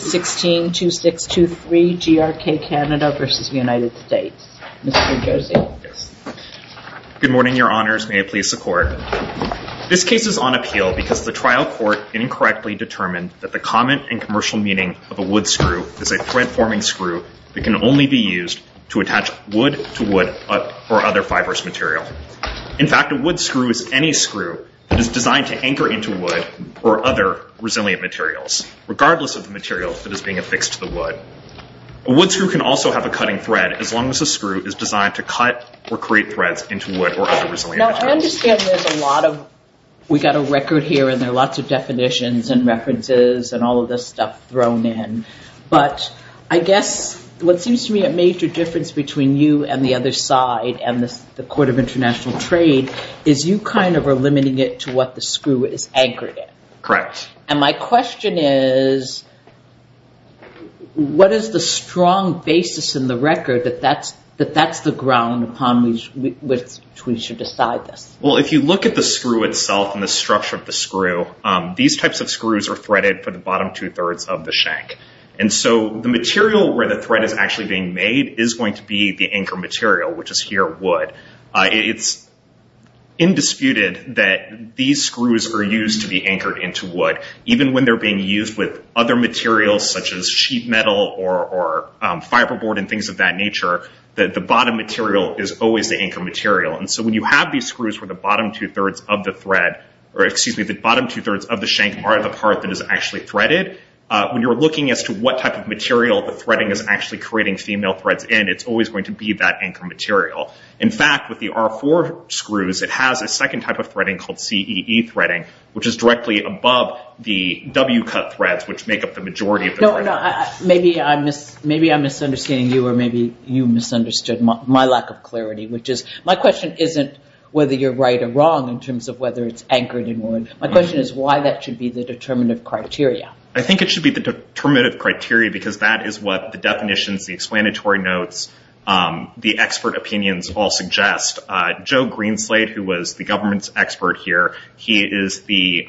Good morning, Your Honors. May it please the Court. This case is on appeal because the trial court incorrectly determined that the common and commercial meaning of a wood screw is a thread-forming screw that can only be used to attach wood to wood or other fibrous material. In fact, a wood screw is any screw that is designed to anchor into wood or other resilient materials, regardless of the material that is being affixed to the wood. A wood screw can also have a cutting thread, as long as the screw is designed to cut or create threads into wood or other resilient materials. Now, I understand there's a lot of – we've got a record here and there are lots of definitions and references and all of this stuff thrown in, but I guess what seems to me a major difference between you and the other side and the Court of International Trade is you kind of are limiting it to what the screw is anchored in. Correct. And my question is, what is the strong basis in the record that that's the ground upon which we should decide this? Well, if you look at the screw itself and the structure of the screw, these types of screws are threaded for the bottom two-thirds of the shank. And so the material where the thread is actually being made is going to be the anchor material, which is here wood. It's indisputed that these screws are used to be anchored into wood, even when they're being used with other materials such as sheet metal or fiberboard and things of that nature, the bottom material is always the anchor material. And so when you have these screws where the bottom two-thirds of the thread – or excuse me, the bottom two-thirds of the shank are the part that is actually threaded, when you're looking as to what type of material the threading is actually creating female threads in, it's always going to be that anchor material. In fact, with the R4 screws, it has a second type of threading called CEE threading, which is directly above the W-cut threads, which make up the majority of the thread. Maybe I'm misunderstanding you, or maybe you misunderstood my lack of clarity, which is my question isn't whether you're right or wrong in terms of whether it's anchored in wood. My question is why that should be the determinative criteria. I think it should be the determinative criteria because that is what the definitions, the definitions all suggest. Joe Greenslade, who was the government's expert here, he is the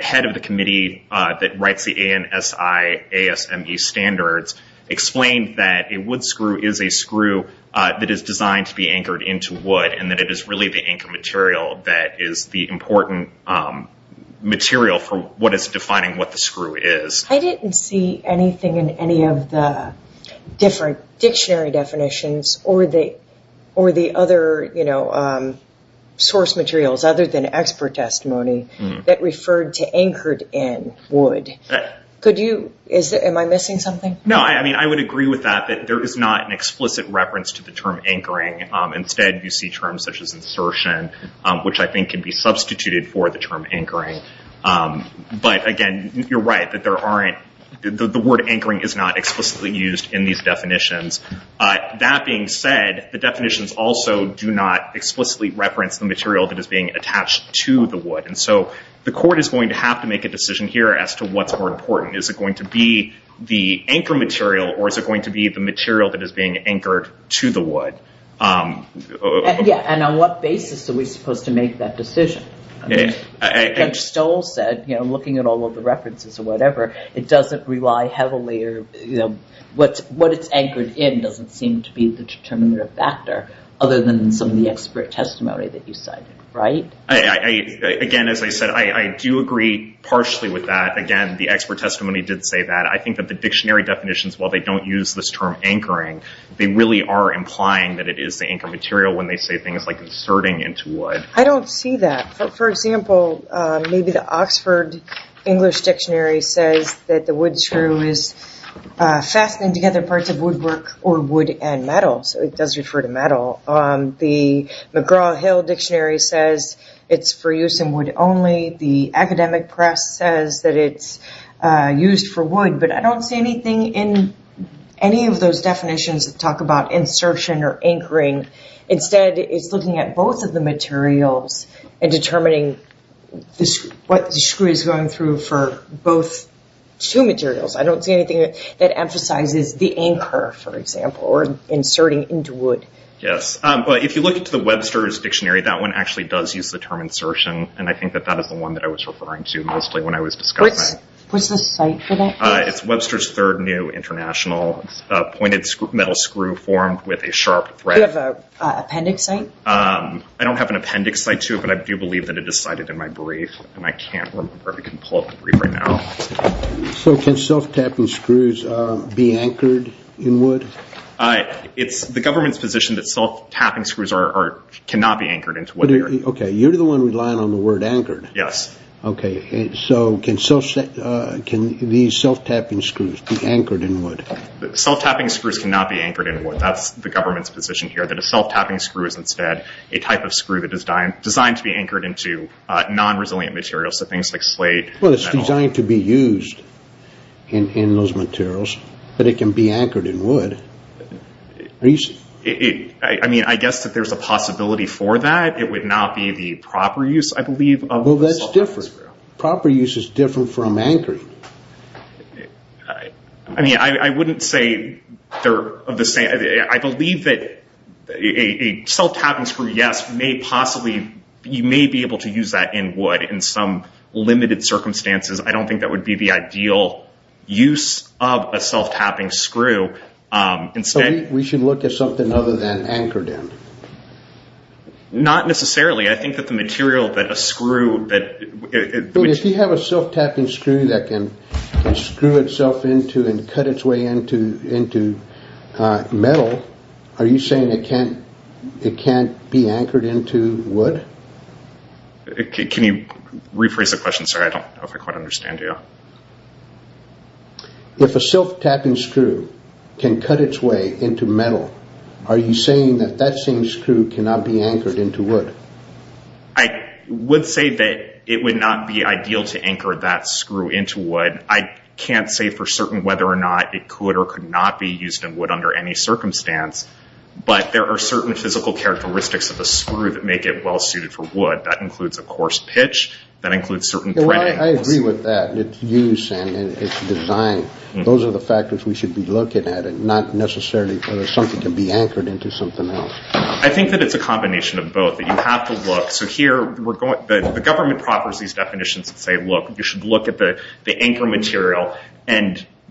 head of the committee that writes the ANSI-ASME standards, explained that a wood screw is a screw that is designed to be anchored into wood and that it is really the anchor material that is the important material for what is defining what the screw is. I didn't see anything in any of the different dictionary definitions or the other source materials other than expert testimony that referred to anchored in wood. Am I missing something? No, I would agree with that, that there is not an explicit reference to the term anchoring. Instead, you see terms such as insertion, which I think can be substituted for the term current. The word anchoring is not explicitly used in these definitions. That being said, the definitions also do not explicitly reference the material that is being attached to the wood. The court is going to have to make a decision here as to what's more important. Is it going to be the anchor material or is it going to be the material that is being anchored to the wood? Yes, and on what basis are we supposed to It doesn't rely heavily. What it's anchored in doesn't seem to be the determinative factor other than some of the expert testimony that you cited, right? Again, as I said, I do agree partially with that. Again, the expert testimony did say that. I think that the dictionary definitions, while they don't use this term anchoring, they really are implying that it is the anchor material when they say things like inserting into wood. I don't see that. For example, maybe the Oxford English Dictionary says that the wood screw is fastening together parts of woodwork or wood and metal, so it does refer to metal. The McGraw-Hill Dictionary says it's for use in wood only. The academic press says that it's used for wood, but I don't see anything in any of those definitions that talk about insertion or anchoring. Instead, it's looking at both of the materials and determining what the screw is going through for both two materials. I don't see anything that emphasizes the anchor, for example, or inserting into wood. Yes, but if you look into the Webster's Dictionary, that one actually does use the term insertion, and I think that that is the one that I was referring to mostly when I was discussing it. What's the site for that? It's Webster's Third New International. It's a pointed metal screw formed with a sharp thread. Do you have an appendix site? I don't have an appendix site, too, but I do believe that it is cited in my brief, and I can't remember. We can pull up the brief right now. Can self-tapping screws be anchored in wood? It's the government's position that self-tapping screws cannot be anchored into wood. Okay, you're the one relying on the word anchored. Yes. So can these self-tapping screws be anchored in wood? Self-tapping screws cannot be anchored in wood. That's the government's position here, that a self-tapping screw is instead a type of screw that is designed to be anchored into non-resilient materials, so things like slate. Well, it's designed to be used in those materials, but it can be anchored in wood. I guess that there's a possibility for that. It would not be the proper use, I believe, of a self-tapping screw. Proper use is different from anchoring. I mean, I wouldn't say they're of the same... I believe that a self-tapping screw, yes, you may be able to use that in wood in some limited circumstances. I don't think that would be the ideal use of a self-tapping screw. We should look at something other than anchored in. Not necessarily. I think that the material that a screw... If you have a self-tapping screw that can screw itself into and cut its way into metal, are you saying it can't be anchored into wood? Can you rephrase the question, sir? I don't quite understand you. If a self-tapping screw can cut its way into metal, are you saying that that same screw cannot be anchored into wood? I would say that it would not be ideal to anchor that screw into wood. I can't say for certain whether or not it could or could not be used in wood under any circumstance, but there are certain physical characteristics of a screw that make it well-suited for wood. That includes a coarse pitch. That includes certain thread angles. I agree with that. Its use and its design. Those are the factors we should be looking at, not necessarily whether something can be anchored into something else. I think that it's a combination of both. You have to look. The government proposes these definitions that say you should look at the anchor material,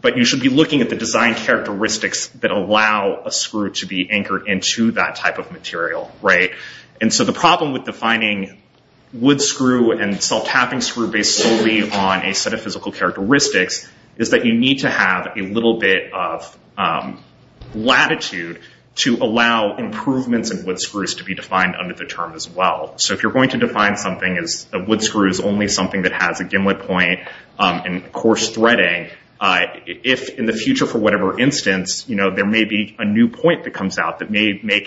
but you should be looking at the design characteristics that allow a screw to be anchored into that type of material. The problem with defining wood screw and self-tapping screw based solely on a set of physical characteristics is that you need to have a little bit of latitude to allow improvements in wood screws to be defined under the term as well. If you're going to define something as wood screw is only something that has a gimlet point and coarse threading, if in the future, for whatever instance, there may be a new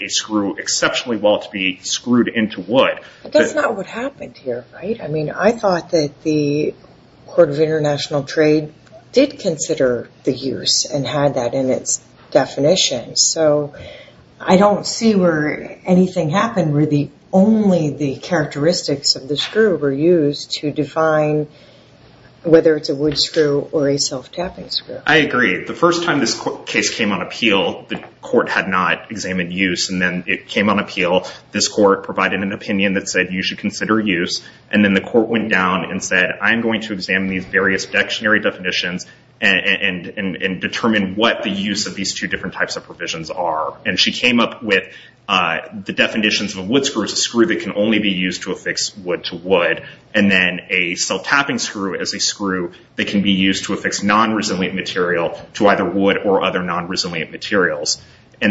screw, it's probably well to be screwed into wood. But that's not what happened here, right? I thought that the Court of International Trade did consider the use and had that in its definition. I don't see where anything happened where only the characteristics of the screw were used to define whether it's a wood screw or a self-tapping screw. I agree. The first time this case came on appeal, the court had not examined use. Then it came on appeal. This court provided an opinion that said you should consider use. Then the court went down and said, I'm going to examine these various dictionary definitions and determine what the use of these two different types of provisions are. She came up with the definitions of a wood screw as a screw that can only be used to affix wood to wood, and then a self-tapping screw as a screw that can be used to affix non-resilient material to either wood or other non-resilient materials.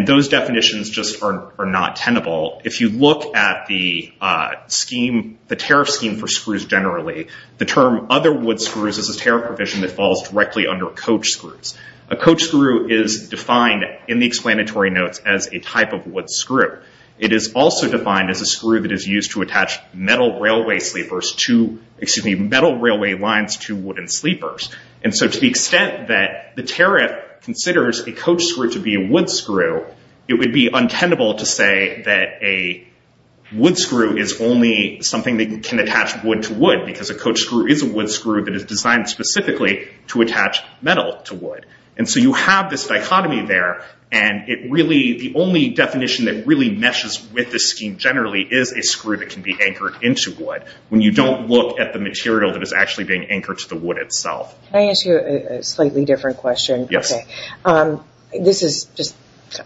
Those definitions just are not tenable. If you look at the tariff scheme for screws generally, the term other wood screws is a tariff provision that falls directly under coach screws. A coach screw is defined in the explanatory notes as a type of wood screw. It is also defined as a screw that is used to attach metal railway lines to wooden sleepers. To the extent that the tariff considers a coach screw to be a wood screw, it would be untenable to say that a wood screw is only something that can attach wood to wood, because a coach screw is a wood screw that is designed specifically to attach metal to wood. You have this dichotomy there. The only definition that really meshes with this scheme generally is a screw that can be anchored into wood, when you don't look at the material that is actually being anchored to the wood itself. Can I ask you a slightly different question? Yes. This is just,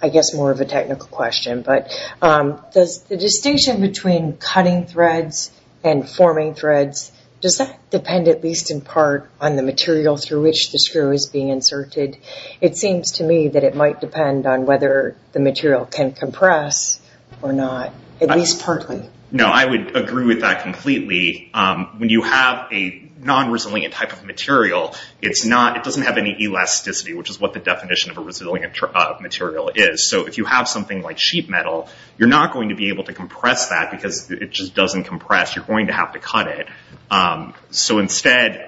I guess, more of a technical question. The distinction between cutting threads and forming threads, does that depend at least in part on the material through which the screw is being inserted? It seems to me that it might depend on whether the material can compress or not, at least partly. No, I would agree with that completely. When you have a non-resilient type of material, it doesn't have any elasticity, which is what the definition of a resilient material is. If you have something like sheet metal, you're not going to be able to compress that because it just doesn't compress. You're going to have to cut it. Instead,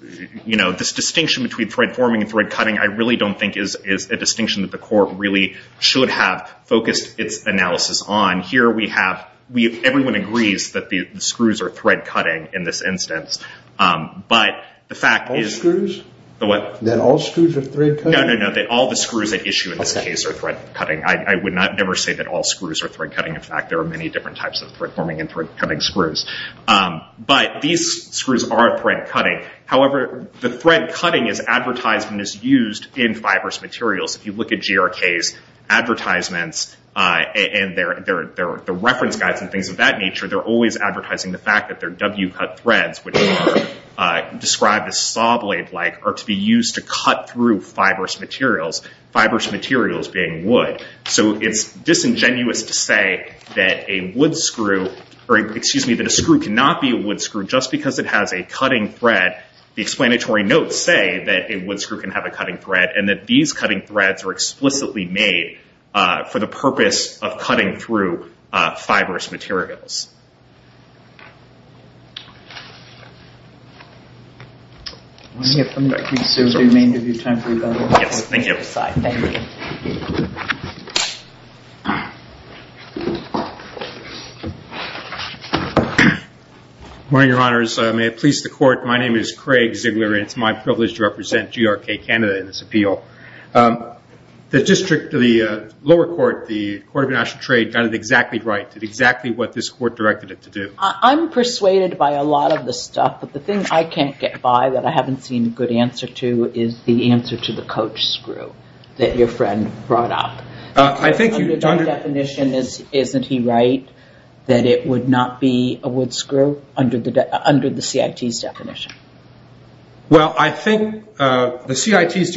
this distinction between thread forming and thread cutting, I really don't think is a distinction that the court really should have focused its analysis on. Here we have, everyone agrees that the screws are thread cutting in this instance, but the fact is... All screws? The what? That all screws are thread cutting? No, no, no. All the screws at issue in this case are thread cutting. I would never say that all screws are thread cutting. In fact, there are many different types of thread forming and thread cutting screws. These screws are thread cutting. However, the thread cutting is advertised and is used in fibrous materials. If you look at GRK's advertisements and their reference guides and things of that nature, they're always advertising the fact that their W-cut threads, which are described as saw blade-like, are to be used to cut through fibrous materials. Fibrous materials being wood. It's disingenuous to say that a screw cannot be a wood screw just because it has a cutting thread. The explanatory notes say that a wood screw can have a cutting thread, and that these cutting threads are explicitly made for the purpose of cutting through fibrous materials. Let me assume that we have time for another question from the side. Yes, thank you. Good morning, Your Honors. May it please the Court, my name is Craig Ziegler, and it's my privilege to represent GRK Canada in this appeal. The district, the lower court, the Court of International Trade, got it exactly right, did exactly what this court directed it to do. I'm persuaded by a lot of this stuff, but the thing I can't get by that I haven't seen a good answer to is the answer to the coach screw that your friend brought up. I think you, Dr. My definition is, isn't he right, that it would not be a wood screw under the CIT's definition? Well, I think the CIT's...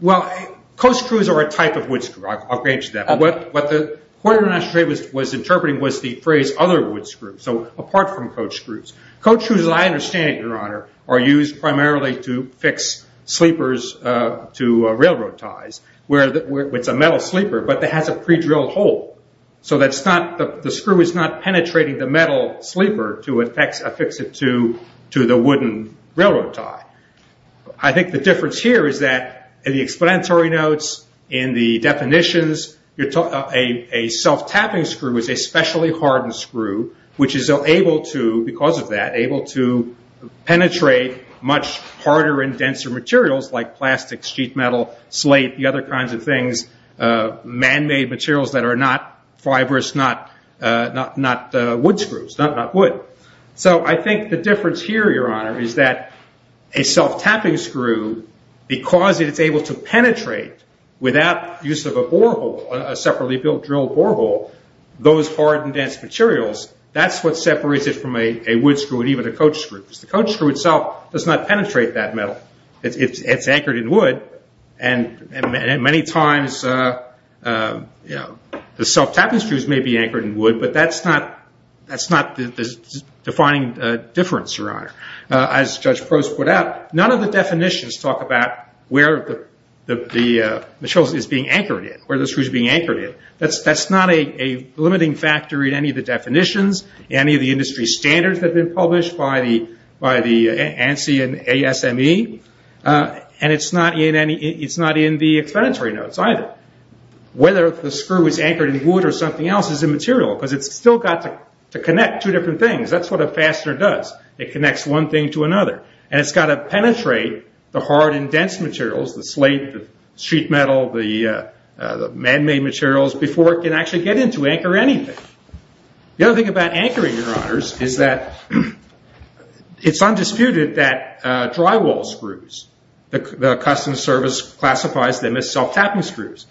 Well, coach screws are a type of wood screw, I'll grant you that. Okay. What the Court of International Trade was interpreting was the phrase other wood screws, so apart from coach screws. Coach screws, as I understand it, Your Honor, are used primarily to fix sleepers to railroad ties. It's a metal sleeper, but it has a pre-drilled hole, so the screw is not penetrating the metal sleeper to affix it to the wooden railroad tie. I think the difference here is that in the explanatory notes, in the definitions, a self-tapping screw is a specially hardened screw, which is able to, because of that, able to penetrate much harder and denser materials like plastic, sheet metal, slate, the other kinds of things, man-made materials that are not fibrous, not wood screws, not wood. I think the difference here, Your Honor, is that a self-tapping screw, because it is able to penetrate without use of a borehole, a separately drilled borehole, those hard and dense materials, that's what separates it from a wood screw and even a coach screw. The coach screw itself does not penetrate that metal. It's anchored in wood, and many times the self-tapping screws may be anchored in wood, but that's not the defining difference, Your Honor. As Judge Prost put out, none of the definitions talk about where the material is being anchored in, where the screw is being anchored in. That's not a limiting factor in any of the by the ANSI and ASME, and it's not in the explanatory notes either. Whether the screw is anchored in wood or something else is immaterial, because it's still got to connect two different things. That's what a fastener does. It connects one thing to another, and it's got to penetrate the hard and dense materials, the slate, the sheet metal, the man-made materials, before it can actually get in to anchor anything. The other thing about anchoring, Your Honors, is that it's undisputed that drywall screws, the Customs Service classifies them as self-tapping screws.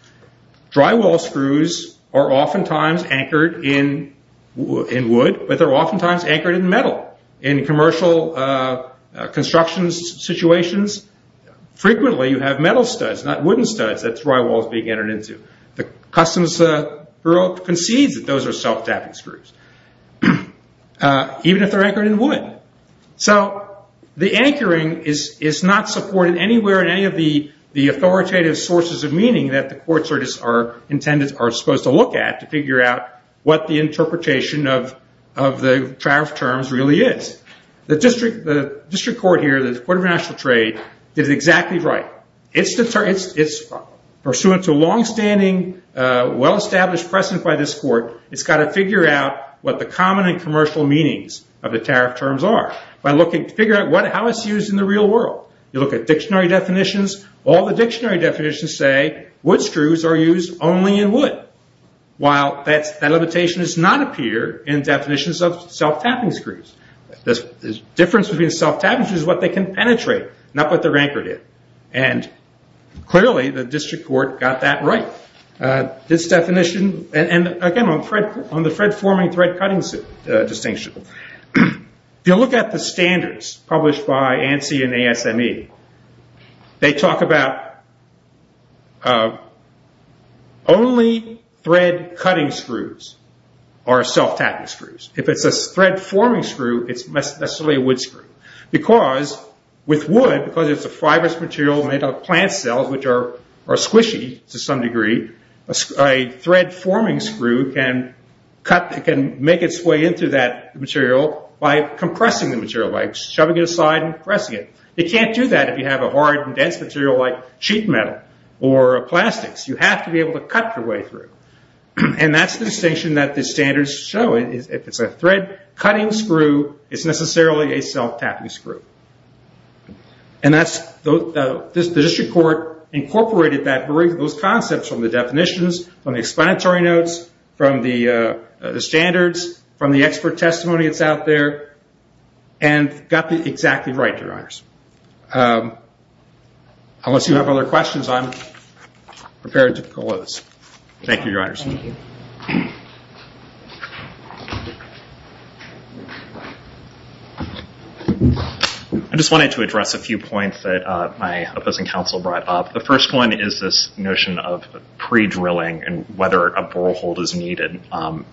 Drywall screws are oftentimes anchored in wood, but they're oftentimes anchored in metal. In commercial construction situations, frequently you have metal studs, not wooden studs, that drywall is being anchored into. The Customs Bureau concedes that those are self-tapping screws, even if they're anchored in wood. The anchoring is not supported anywhere in any of the authoritative sources of meaning that the courts are supposed to look at to figure out what the interpretation of the draft terms really is. The District Court here, the Court of International Trade, did a well-established precedent by this court. It's got to figure out what the common and commercial meanings of the tariff terms are, by looking to figure out how it's used in the real world. You look at dictionary definitions, all the dictionary definitions say wood screws are used only in wood, while that limitation does not appear in definitions of self-tapping screws. The difference between self-tapping screws is what they can penetrate, not what they're anchored in. Clearly, the District Court got that right. This definition, and again, on the thread-forming, thread-cutting distinction. If you look at the standards published by ANSI and ASME, they talk about only thread-cutting screws are self-tapping screws. If it's a thread-forming screw, it's necessarily a wood screw. Because with wood, because it's a fibrous material made of plant cells, which are squishy to some degree, a thread-forming screw can make its way into that material by compressing the material, by shoving it aside and compressing it. You can't do that if you have a hard and dense material like sheet metal or plastics. You have to be able to cut your way through. That's the distinction that the standards show. If it's a thread-cutting screw, it's necessarily a self-tapping screw. The District Court incorporated those concepts from the definitions, from the explanatory notes, from the standards, from the expert testimony that's out there, and got it exactly right, Your Honors. Unless you have other questions, I'm prepared to close. Thank you, Your Honors. I just wanted to address a few points that my opposing counsel brought up. The first one is this notion of pre-drilling and whether a borehole is needed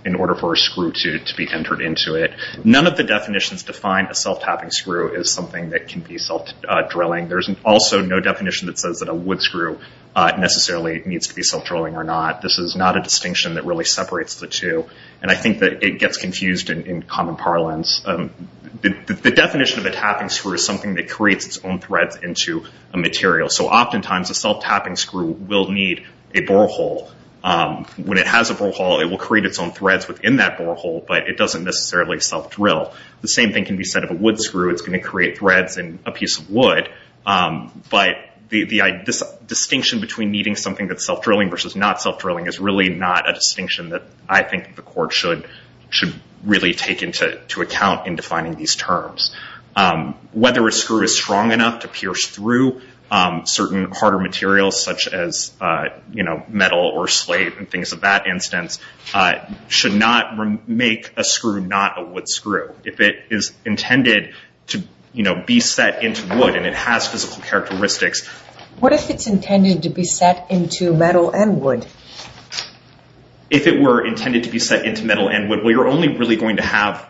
in order for a screw to be entered into it. None of the definitions define a self-tapping screw as something that can be self-drilling. There's also no definition that says that a wood screw necessarily needs to be self-drilling or not. This is not a distinction that really separates the two. I think that it gets confused in common parlance. The definition of a tapping screw is something that creates its own threads into a material. Oftentimes, a self-tapping screw will need a borehole. When it has a borehole, it will create its own threads within that borehole, but it doesn't necessarily self-drill. The same thing can be said of a wood screw. It's going to create threads in a piece of wood. This distinction between needing something that's self-drilling versus not self-drilling is really not a distinction that I think the court should really take into account in defining these terms. Whether a screw is strong enough to pierce through certain harder materials such as metal or slate and things of that instance should not make a screw not a wood screw. If it is intended to be set into wood and it has physical characteristics— If it were intended to be set into metal and wood, you're only really going to have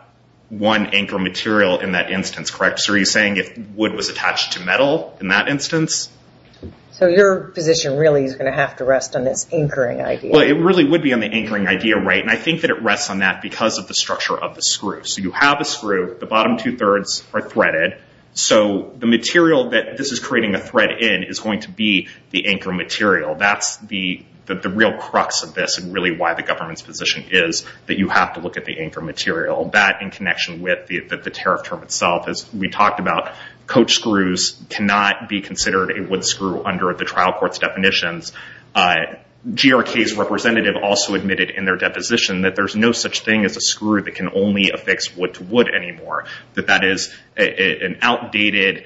one anchor material in that instance, correct? Are you saying if wood was attached to metal in that instance? Your position really is going to have to rest on this anchoring idea. It really would be on the anchoring idea, right? I think that it rests on that because of the structure of the screw. You have a screw. The bottom two-thirds are threaded. The material that this is creating a thread in is going to be the anchor material. That's the real crux of this and really why the government's position is that you have to look at the anchor material. That in connection with the tariff term itself, as we talked about, coach screws cannot be considered a wood screw under the trial court's definitions. GRK's representative also admitted in their deposition that there's no such thing as a wood screw anymore, that that is an outdated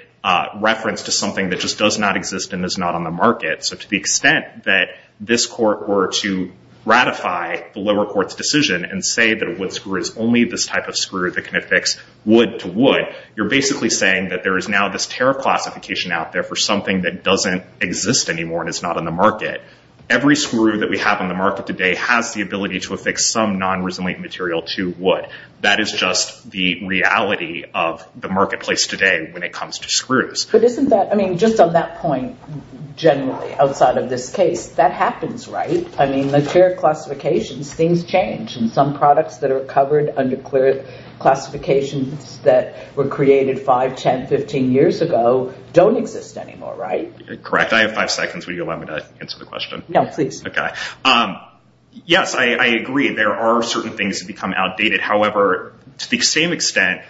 reference to something that just does not exist and is not on the market. To the extent that this court were to ratify the lower court's decision and say that a wood screw is only this type of screw that can affix wood to wood, you're basically saying that there is now this tariff classification out there for something that doesn't exist anymore and is not on the market. Every screw that we have on the market today has the ability to affix some non-resilient material to wood. That is just the reality of the marketplace today when it comes to screws. But isn't that, I mean, just on that point, generally, outside of this case, that happens, right? I mean, the tariff classifications, things change and some products that are covered under tariff classifications that were created 5, 10, 15 years ago don't exist anymore, right? Correct. I have five seconds. Will you allow me to answer the question? No, please. Okay. Yes, I agree. There are certain things that become outdated. However, to the same extent,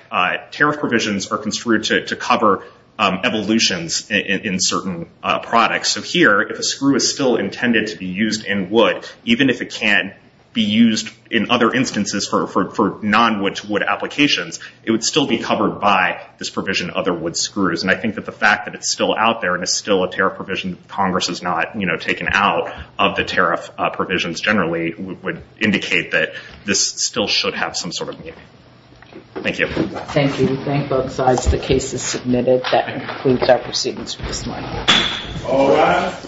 tariff provisions are construed to cover evolutions in certain products. So here, if a screw is still intended to be used in wood, even if it can't be used in other instances for non-wood-to-wood applications, it would still be covered by this provision, other wood screws. And I think that the fact that it's still out there and is still a tariff provision and Congress has not taken out of the tariff provisions generally, would indicate that this still should have some sort of meaning. Thank you. Thank you. We thank both sides. The case is submitted. That concludes our proceedings for this morning. All rise.